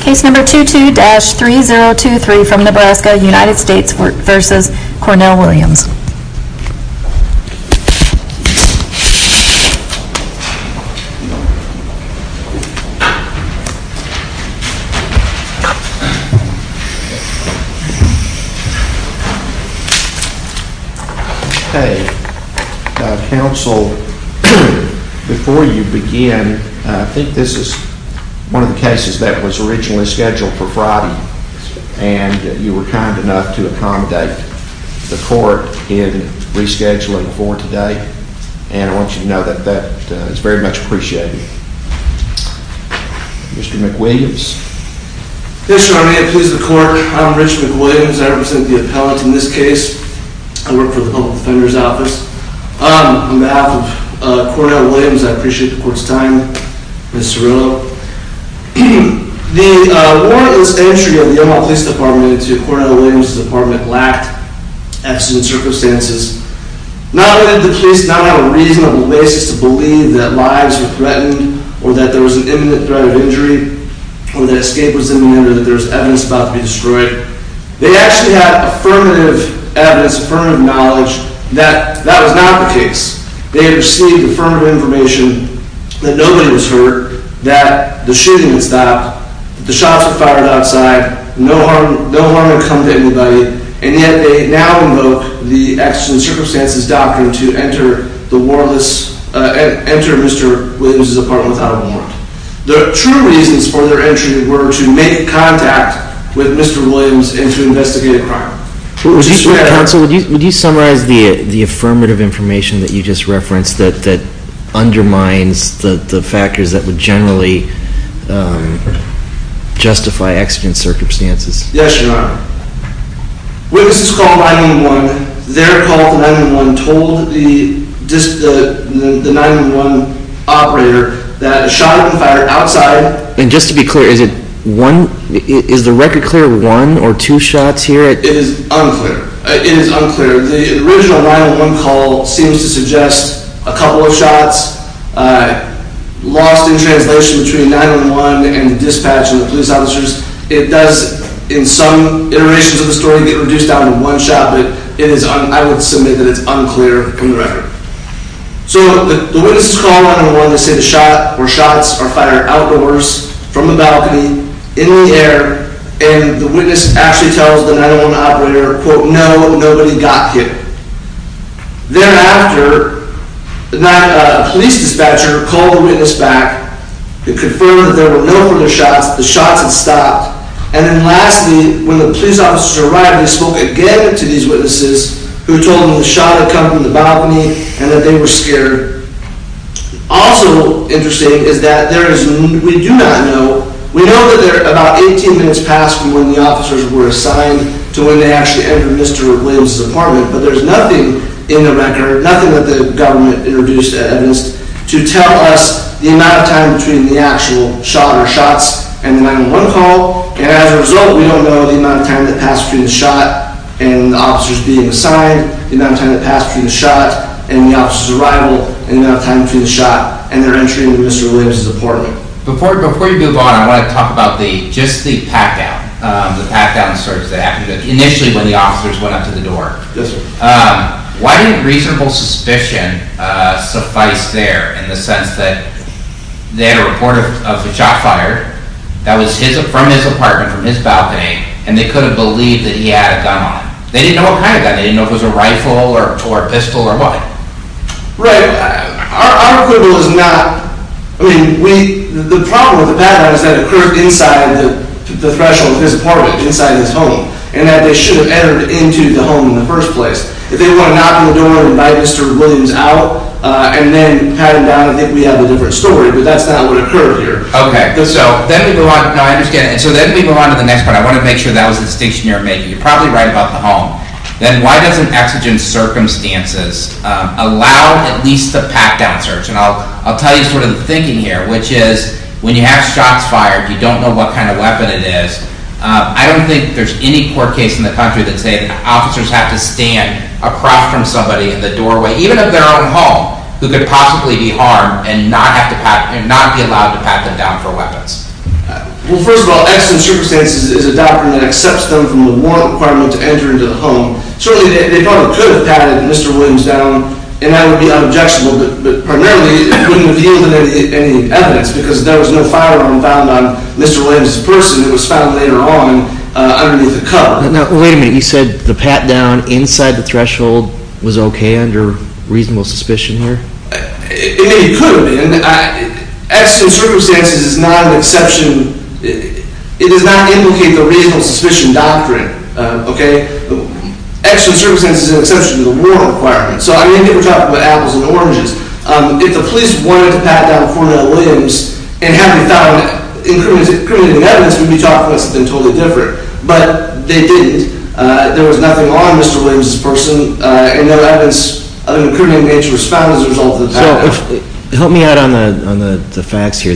Case number 22-3023 from Nebraska, United States v. Cornell Williams. Okay, counsel, before you begin, I think this is one of the cases that was originally scheduled for Friday and you were kind enough to accommodate the court in rescheduling for today, and I want you to know that that is very much appreciated. Mr. McWilliams. Yes, Your Honor, may it please the court. I'm Rich McWilliams. I represent the appellate in this case. I work for the Public Defender's Office. On behalf of Cornell Williams, I appreciate the court's time. The warrantless entry of the Omaha Police Department into Cornell Williams' apartment lacked accident circumstances. Not only did the police not have a reasonable basis to believe that lives were threatened or that there was an imminent threat of injury or that escape was imminent or that there was evidence about to be destroyed, they actually had affirmative evidence, affirmative knowledge that that was not the case. They had received affirmative information that nobody was hurt, that the shooting had stopped, that the shots were fired outside, no harm had come to anybody, and yet they now invoke the accident circumstances doctrine to enter Mr. Williams' apartment without a warrant. The true reasons for their entry were to make contact with Mr. Williams and to investigate a crime. Counsel, would you summarize the affirmative information that you just referenced that undermines the factors that would generally justify accident circumstances? Yes, Your Honor. Witnesses called 9-1-1. Their call to 9-1-1 told the 9-1-1 operator that a shot had been fired outside. And just to be clear, is the record clear one or two shots here? It is unclear. It is unclear. The original 9-1-1 call seems to suggest a couple of shots lost in translation between 9-1-1 and the dispatch and the police officers. It does, in some iterations of the story, get reduced down to one shot, but I would submit that it's unclear from the record. So the witnesses call 9-1-1 to say the shot or shots are fired outdoors, from the balcony, in the air, and the witness actually tells the 9-1-1 operator, quote, Thereafter, the police dispatcher called the witness back and confirmed that there were no further shots. The shots had stopped. And then lastly, when the police officers arrived, they spoke again to these witnesses, who told them the shot had come from the balcony and that they were scared. Also interesting is that there is, we do not know, we know that about 18 minutes passed from when the officers were assigned to when they actually entered Mr. Williams' apartment, but there's nothing in the record, nothing that the government introduced at Edmonds, to tell us the amount of time between the actual shot or shots and the 9-1-1 call. And as a result, we don't know the amount of time that passed between the shot and the officers being assigned, the amount of time that passed between the shot and the officers' arrival, and the amount of time between the shot and their entry into Mr. Williams' apartment. Before you move on, I want to talk about just the pat-down, the pat-down search that happened initially when the officers went up to the door. Yes, sir. Why didn't reasonable suspicion suffice there in the sense that they had a report of the shot fired, that was from his apartment, from his balcony, and they could have believed that he had a gun on him? They didn't know what kind of gun, they didn't know if it was a rifle or a pistol or what. Right. Our quibble is not – I mean, we – the problem with the pat-down is that it occurred inside the threshold of his apartment, inside his home, and that they should have entered into the home in the first place. If they want to knock on the door and invite Mr. Williams out and then pat him down, I think we have a different story, but that's not what occurred here. Okay, so then we go on – no, I understand. And so then we go on to the next part. I want to make sure that was the distinction you weren't making. You're probably right about the home. Then why doesn't exigent circumstances allow at least a pat-down search? And I'll tell you sort of the thinking here, which is when you have shots fired, you don't know what kind of weapon it is. I don't think there's any court case in the country that say that officers have to stand across from somebody in the doorway, even of their own home, who could possibly be harmed and not be allowed to pat them down for weapons. Well, first of all, exigent circumstances is a doctrine that accepts them from the warrant requirement to enter into the home. Certainly, they probably could have patted Mr. Williams down, and that would be unobjectionable. But primarily, it wouldn't have yielded any evidence because there was no firearm found on Mr. Williams' person that was found later on underneath the cup. Now, wait a minute. You said the pat-down inside the threshold was okay under reasonable suspicion here? I mean, it could have been. Exigent circumstances is not an exception. It does not indicate the reasonable suspicion doctrine. Okay? Exigent circumstances is an exception to the warrant requirement. So, I mean, we're talking about apples and oranges. If the police wanted to pat down a foreman at Williams and hadn't found any evidence, we'd be talking about something totally different. But they didn't. There was nothing on Mr. Williams' person. So, help me out on the facts here.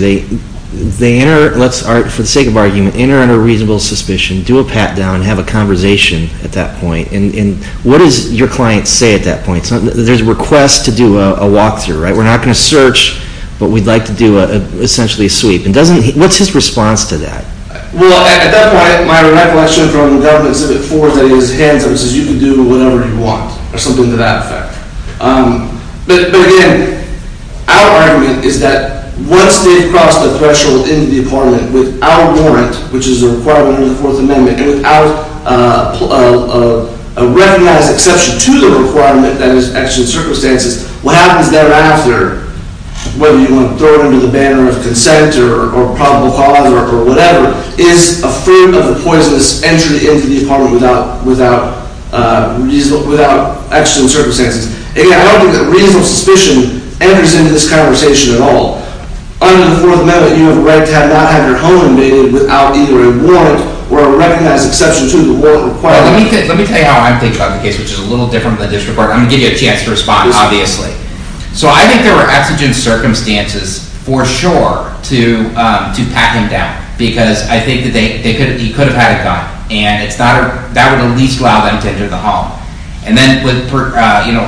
For the sake of argument, enter under reasonable suspicion, do a pat-down, have a conversation at that point. And what does your client say at that point? There's a request to do a walkthrough, right? We're not going to search, but we'd like to do essentially a sweep. What's his response to that? Well, at that point, my recollection from the government is that it is hands-up. It says you can do whatever you want or something to that effect. But, again, our argument is that once they've crossed the threshold in the apartment without warrant, which is a requirement under the Fourth Amendment, and without a recognized exception to the requirement, that is, exigent circumstances, what happens thereafter, whether you want to throw it under the banner of consent or probable cause or whatever, is a form of a poisonous entry into the apartment without exigent circumstances. Again, I don't think that reasonable suspicion enters into this conversation at all. Under the Fourth Amendment, you have a right to not have your home invaded without either a warrant or a recognized exception to the warrant requirement. Let me tell you how I think about the case, which is a little different from the district court. So I think there were exigent circumstances for sure to pat him down, because I think that he could have had a gun, and that would at least allow them to enter the home. And then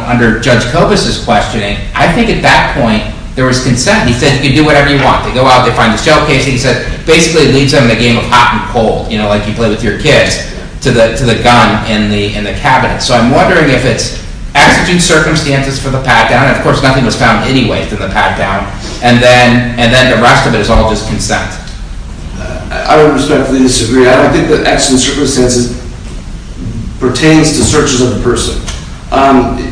under Judge Kobus' questioning, I think at that point there was consent. He said you can do whatever you want. They go out, they find a shell case, and he said basically it leaves them in a game of hot and cold, like you play with your kids, to the gun in the cabinet. So I'm wondering if it's exigent circumstances for the pat-down, and of course nothing was found anyway for the pat-down, and then the rest of it is all just consent. I would respectfully disagree. I think that exigent circumstances pertains to searches of the person.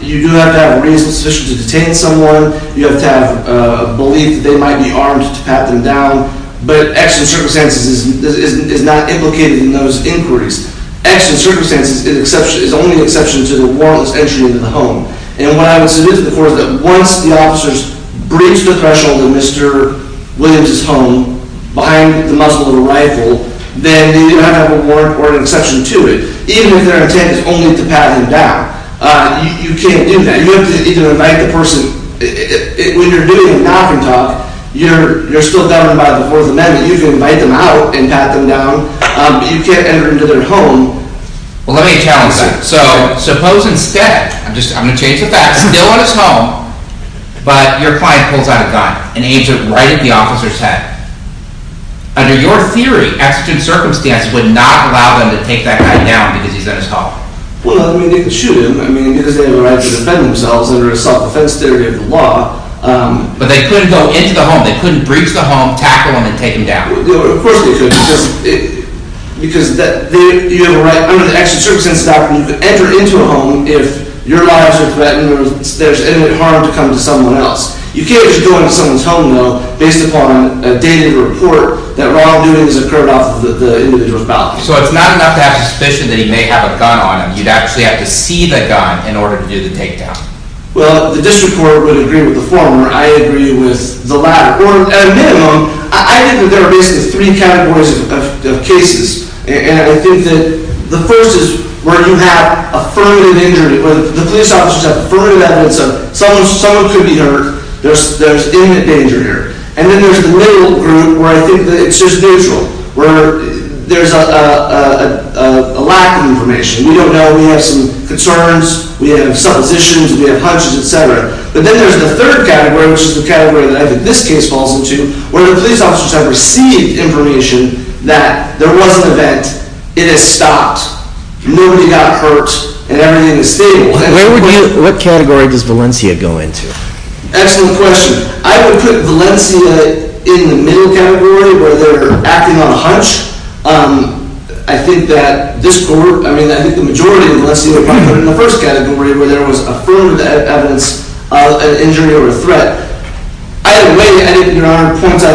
You do have to have reasonable suspicion to detain someone. You have to have belief that they might be armed to pat them down. But exigent circumstances is not implicated in those inquiries. Exigent circumstances is only an exception to the warrantless entry into the home. And what I would submit to the court is that once the officers breach the threshold of Mr. Williams' home, behind the muzzle of a rifle, then they do not have a warrant or an exception to it, even if their intent is only to pat him down. You can't do that. You have to either invite the person. When you're doing a knock and talk, you're still governed by the Fourth Amendment. You can invite them out and pat them down, but you can't enter into their home. Well, let me challenge that. So suppose instead, I'm going to change the facts, still in his home, but your client pulls out a gun, an agent right at the officer's head. Under your theory, exigent circumstances would not allow them to take that guy down because he's on his top. Well, I mean, they could shoot him. I mean, it is their right to defend themselves under a self-defense theory of the law. But they couldn't go into the home. They couldn't breach the home, tackle him, and take him down. Well, of course they could because you have a right under the exigent circumstances doctrine, you can enter into a home if your lives are threatened or there's any harm to come to someone else. You can't just go into someone's home, though, based upon a dated report that wrongdoings occurred off of the individual's body. So it's not enough to have suspicion that he may have a gun on him. You'd actually have to see the gun in order to do the takedown. Well, the district court would agree with the former. I agree with the latter. At a minimum, I think that there are basically three categories of cases. And I think that the first is where you have affirmative injury, where the police officers have affirmative evidence of someone could be hurt. There's imminent danger here. And then there's the middle group where I think that it's just neutral, where there's a lack of information. We don't know. We have some concerns. We have suppositions. We have hunches, et cetera. But then there's the third category, which is the category that I think this case falls into, where the police officers have received information that there was an event, it has stopped, nobody got hurt, and everything is stable. What category does Valencia go into? Excellent question. I would put Valencia in the middle category where they're acting on a hunch. I think that this court, I mean, I think the majority of Valencia might put it in the first category where there was affirmative evidence of an injury or a threat. Either way, I think there are points of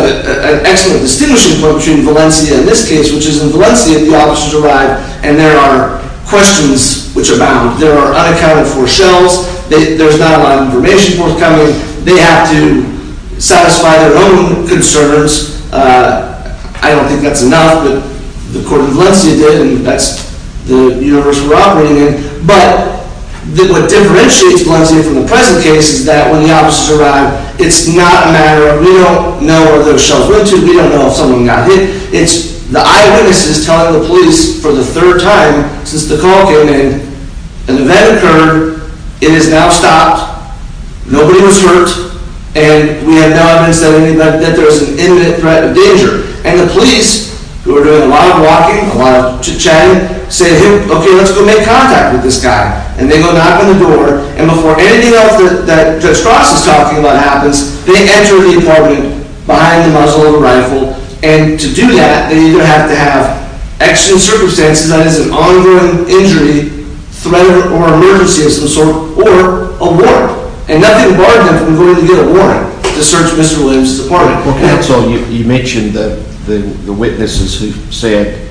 excellent distinguishing point between Valencia and this case, which is in Valencia the officers arrive and there are questions which abound. There are unaccounted for shells. There's not a lot of information forthcoming. They have to satisfy their own concerns. I don't think that's enough, but the court in Valencia did, and that's the universe we're operating in. But what differentiates Valencia from the present case is that when the officers arrive, it's not a matter of we don't know where those shells went to, we don't know if someone got hit. It's the eyewitnesses telling the police for the third time since the call came in, an event occurred, it has now stopped, nobody was hurt, and the police, who are doing a lot of walking, a lot of chatting, say, okay, let's go make contact with this guy, and they go knock on the door, and before anything else that Judge Cross is talking about happens, they enter the apartment behind the muzzle of a rifle, and to do that, they either have to have extra circumstances, that is an ongoing injury, threat or emergency of some sort, or a warrant, and nothing barred them from going to get a warrant to search Mr. Williams' apartment. Well, counsel, you mentioned the witnesses who said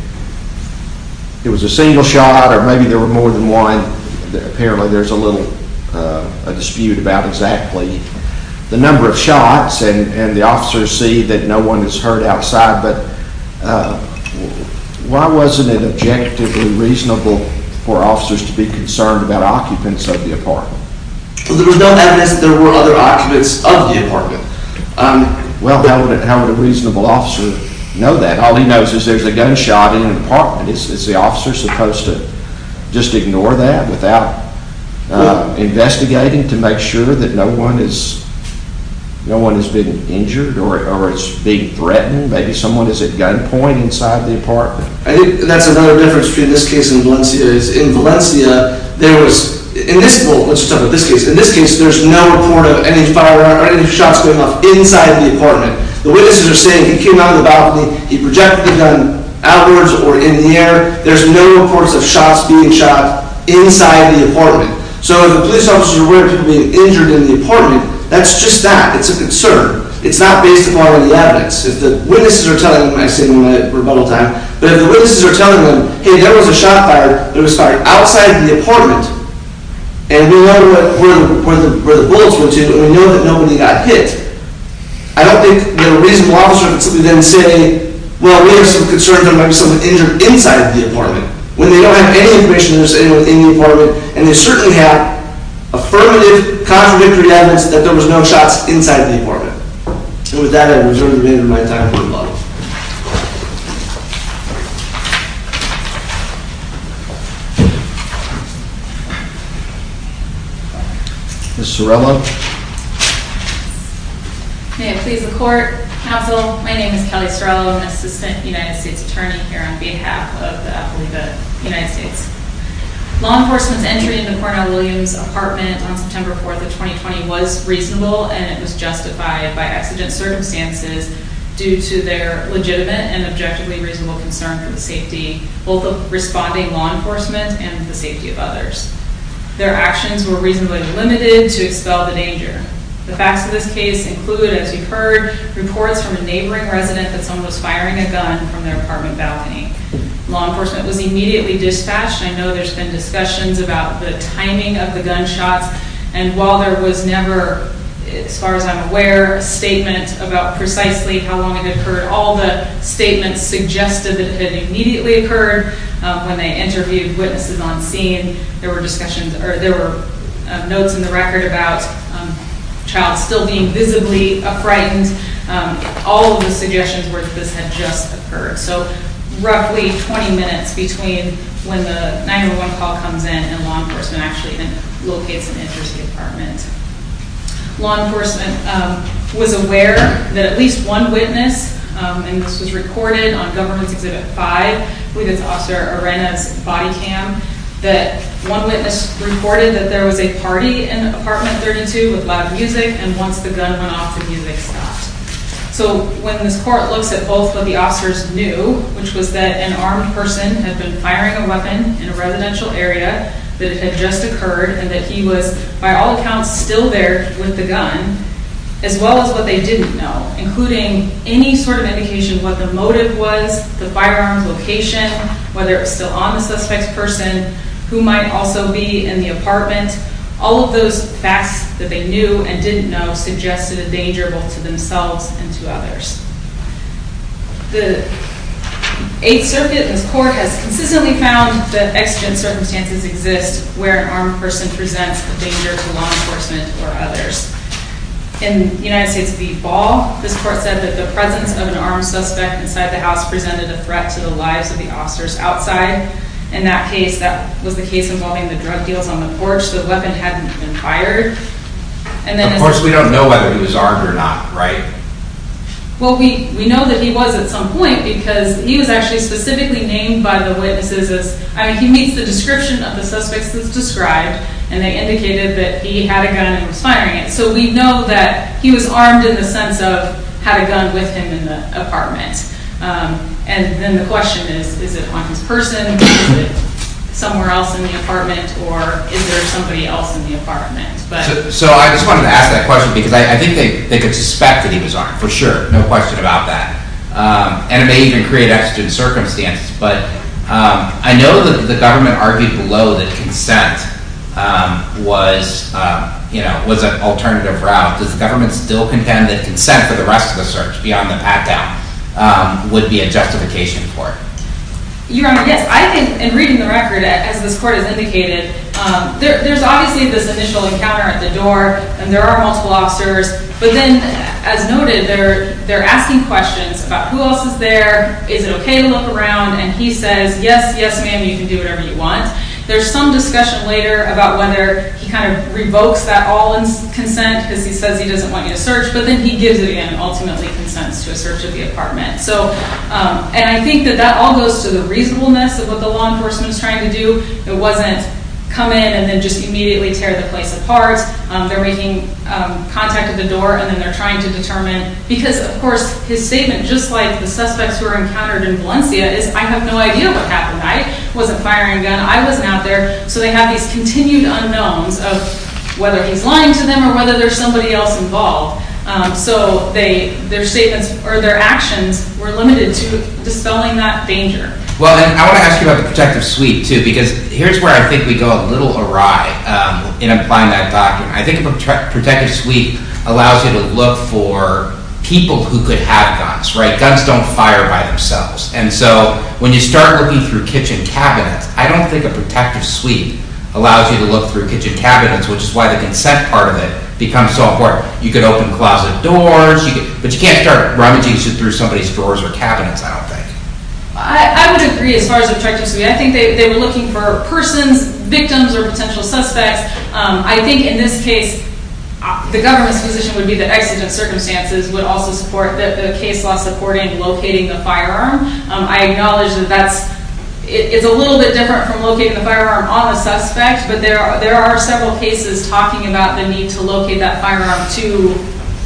it was a single shot, or maybe there were more than one. Apparently there's a little dispute about exactly the number of shots, and the officers see that no one is hurt outside, but why wasn't it objectively reasonable for officers to be concerned about occupants of the apartment? There was no evidence that there were other occupants of the apartment. Well, how would a reasonable officer know that? All he knows is there's a gunshot in the apartment. Is the officer supposed to just ignore that without investigating to make sure that no one has been injured or is being threatened? Maybe someone is at gunpoint inside the apartment. That's another difference between this case and Valencia's. In Valencia, there was, in this case, there's no report of any firearm or any shots being left inside the apartment. The witnesses are saying he came out of the balcony, he projected the gun outwards or in the air. There's no reports of shots being shot inside the apartment. So if the police officers are aware of people being injured in the apartment, that's just that, it's a concern. It's not based upon any evidence. If the witnesses are telling, and I say this in my rebuttal time, but if the witnesses are telling them, hey, there was a shot fired that was fired outside the apartment, and we know where the bullets went to, and we know that nobody got hit, I don't think that a reasonable officer would simply then say, well, we have some concern that there might be someone injured inside the apartment, when they don't have any information that there's anyone in the apartment, and they certainly have affirmative, contradictory evidence that there was no shots inside the apartment. And with that, I reserve the remainder of my time for rebuttal. Ms. Sorrello. May it please the court, counsel, my name is Kelly Sorrello, I'm an assistant United States attorney here on behalf of the affidavit of the United States. Law enforcement's entry into Cornel Williams' apartment on September 4th of 2020 was reasonable, and it was justified by exigent circumstances both of responding law enforcement and the safety of others. Their actions were reasonably limited to expel the danger. The facts of this case include, as you've heard, reports from a neighboring resident that someone was firing a gun from their apartment balcony. Law enforcement was immediately dispatched, I know there's been discussions about the timing of the gunshots, and while there was never, as far as I'm aware, a statement about precisely how long it had occurred, all the statements suggested that it had immediately occurred when they interviewed witnesses on scene, there were discussions, or there were notes in the record about a child still being visibly frightened, all of the suggestions were that this had just occurred. So, roughly 20 minutes between when the 911 call comes in and law enforcement actually locates and enters the apartment. Law enforcement was aware that at least one witness, and this was recorded on Governance Exhibit 5, we get to Officer Arena's body cam, that one witness reported that there was a party in Apartment 32 with loud music, and once the gun went off, the music stopped. So, when this court looks at both what the officers knew, which was that an armed person had been firing a weapon in a residential area that had just occurred, and that he was, by all accounts, still there with the gun, as well as what they didn't know, including any sort of indication of what the motive was, the firearm's location, whether it was still on the suspect's person, who might also be in the apartment, all of those facts that they knew and didn't know suggested a danger both to themselves and to others. The Eighth Circuit in this court has consistently found that exigent circumstances exist where an armed person presents a danger to law enforcement or others. In the United States v. Ball, this court said that the presence of an armed suspect inside the house presented a threat to the lives of the officers outside. In that case, that was the case involving the drug deals on the porch. The weapon hadn't been fired. Of course, we don't know whether he was armed or not, right? Well, we know that he was at some point because he was actually specifically named by the witnesses as he meets the description of the suspects as described, and they indicated that he had a gun and he was firing it. So we know that he was armed in the sense of he had a gun with him in the apartment. And then the question is, is it on his person? Is it somewhere else in the apartment? Or is there somebody else in the apartment? So I just wanted to ask that question because I think they could suspect that he was armed, for sure. No question about that. And it may even create extra circumstances. But I know that the government argued below that consent was an alternative route. Does the government still contend that consent for the rest of the search beyond the pat-down would be a justification for it? Your Honor, yes. I think in reading the record, as this court has indicated, there's obviously this initial encounter at the door, and there are multiple officers. But then, as noted, they're asking questions about who else is there, is it okay to look around, and he says, yes, yes, ma'am, you can do whatever you want. There's some discussion later about whether he kind of revokes that all-in consent because he says he doesn't want you to search, but then he gives it again and ultimately consents to a search of the apartment. And I think that that all goes to the reasonableness of what the law enforcement is trying to do. It wasn't come in and then just immediately tear the place apart. They're making contact at the door, and then they're trying to determine. Because, of course, his statement, just like the suspects who were encountered in Valencia, is I have no idea what happened. I wasn't firing a gun. I wasn't out there. So they have these continued unknowns of whether he's lying to them or whether there's somebody else involved. So their statements or their actions were limited to dispelling that danger. Well, and I want to ask you about the protective suite, too, because here's where I think we go a little awry in applying that doctrine. I think a protective suite allows you to look for people who could have guns, right? Guns don't fire by themselves. And so when you start looking through kitchen cabinets, I don't think a protective suite allows you to look through kitchen cabinets, which is why the consent part of it becomes so important. You could open closet doors, but you can't start rummaging through somebody's floors or cabinets, I don't think. I would agree as far as a protective suite. I think they were looking for persons, victims, or potential suspects. I think in this case, the government's position would be that exigent circumstances would also support the case law supporting locating the firearm. I acknowledge that that's a little bit different from locating the firearm on a suspect, but there are several cases talking about the need to locate that firearm to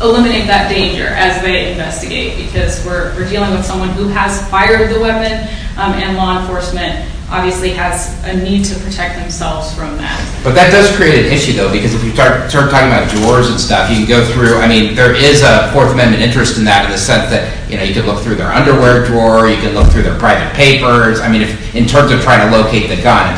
eliminate that danger as they investigate, because we're dealing with someone who has fired the weapon, and law enforcement obviously has a need to protect themselves from that. But that does create an issue, though, because if you start talking about drawers and stuff, you can go through, I mean, there is a Fourth Amendment interest in that in the sense that you can look through their underwear drawer, you can look through their private papers, I mean, in terms of trying to locate the gun.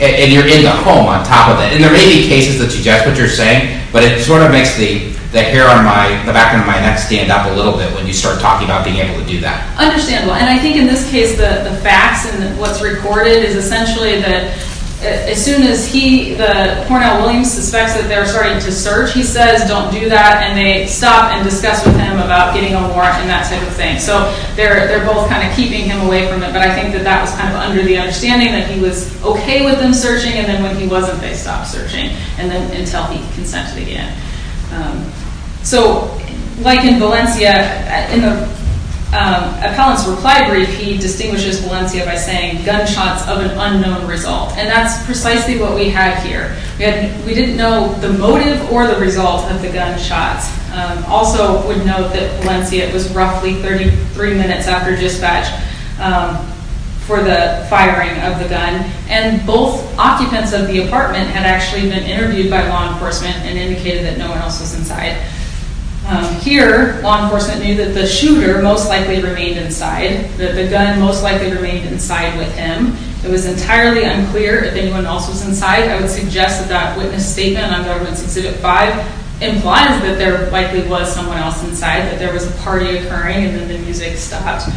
And you're in the home on top of it. And there may be cases that suggest what you're saying, but it sort of makes the hair on the back of my neck stand up a little bit when you start talking about being able to do that. Understandable. And I think in this case, the facts and what's recorded is essentially that as soon as the Cornell Williams suspects that they're starting to search, he says, don't do that, and they stop and discuss with him about getting a warrant and that type of thing. So they're both kind of keeping him away from it. But I think that that was kind of under the understanding that he was okay with them searching, and then when he wasn't, they stopped searching until he consented again. So like in Valencia, in the appellant's reply brief, he distinguishes Valencia by saying, gunshots of an unknown result. And that's precisely what we have here. We didn't know the motive or the result of the gunshots. Also would note that Valencia was roughly 33 minutes after dispatch for the firing of the gun. And both occupants of the apartment had actually been interviewed by law enforcement and indicated that no one else was inside. Here, law enforcement knew that the shooter most likely remained inside, that the gun most likely remained inside with him. It was entirely unclear if anyone else was inside. I would suggest that that witness statement on Government's Exhibit 5 implies that there likely was someone else inside, that there was a party occurring and then the music stopped.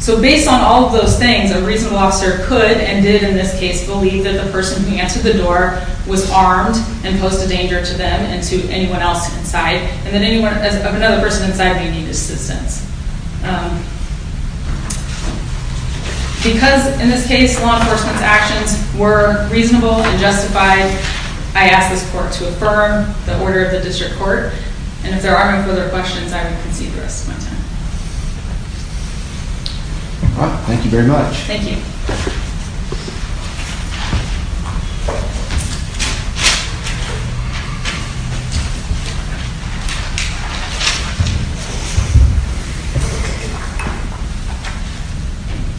So based on all of those things, a reasonable officer could and did in this case believe that the person who answered the door was armed and posed a danger to them and to anyone else inside. And that anyone of another person inside may need assistance. Because in this case, law enforcement's actions were reasonable and justified, I ask this court to affirm the order of the district court. And if there are no further questions, I will concede the rest of my time. Thank you very much. Thank you. Thank you.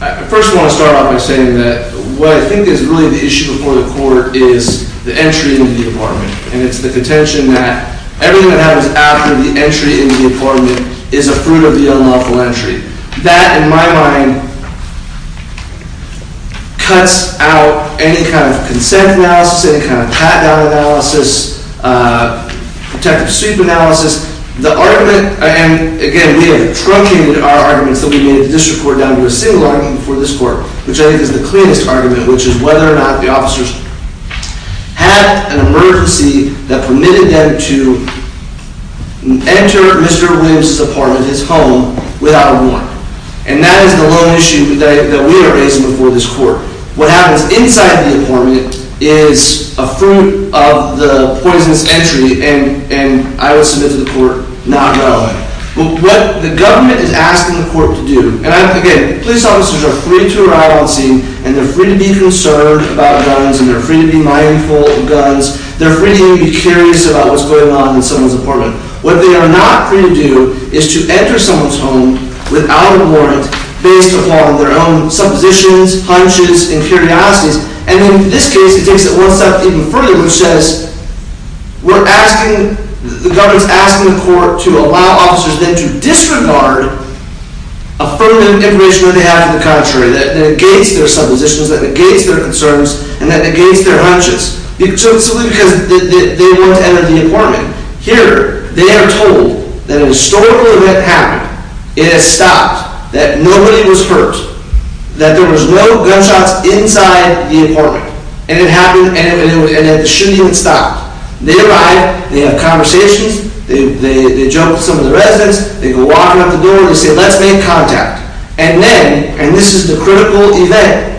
I first want to start off by saying that what I think is really the issue before the court is the entry into the apartment. And it's the contention that everything that happens after the entry into the apartment is a fruit of the unlawful entry. That, in my mind, cuts out any kind of consent analysis, any kind of pat-down analysis, protective sweep analysis. The argument, and again, we have truncated our arguments that we made at the district court down to a single argument before this court, which I think is the cleanest argument, which is whether or not the officers had an emergency that permitted them to enter Mr. Williams' apartment, his home, without a warrant. And that is the lone issue that we are raising before this court. What happens inside the apartment is a fruit of the poisonous entry, and I will submit to the court, not relevant. What the government is asking the court to do, and again, police officers are free to arrive on scene, and they're free to be concerned about guns, and they're free to be mindful of guns. They're free to even be curious about what's going on in someone's apartment. What they are not free to do is to enter someone's home without a warrant, based upon their own suppositions, hunches, and curiosities. And in this case, it takes it one step even further, which says, we're asking, the government's asking the court to allow officers then to disregard affirmative information that they have for the contrary, that negates their suppositions, that negates their concerns, and that negates their hunches. So it's simply because they want to enter the apartment. Here, they are told that a historical event happened. It has stopped. That nobody was hurt. That there was no gunshots inside the apartment. And it happened, and the shooting had stopped. They arrive, they have conversations, they joke with some of the residents, they go walk out the door, they say, let's make contact. And then, and this is the critical event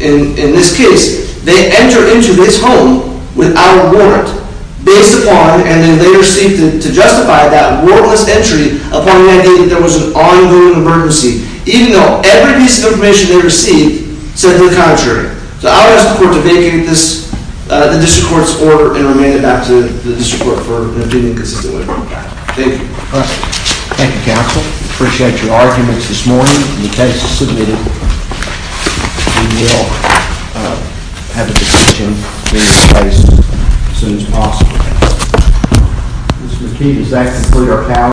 in this case, they enter into this home without a warrant, based upon, and they later seek to justify that warrantless entry upon the idea that there was an ongoing emergency, even though every piece of information they received said to the contrary. So I'll ask the court to vacate this, the district court's order, and remain it back to the district court for an opinion consistently. Thank you. Thank you, counsel. Appreciate your arguments this morning, and the cases submitted. We will have a decision in this case as soon as possible.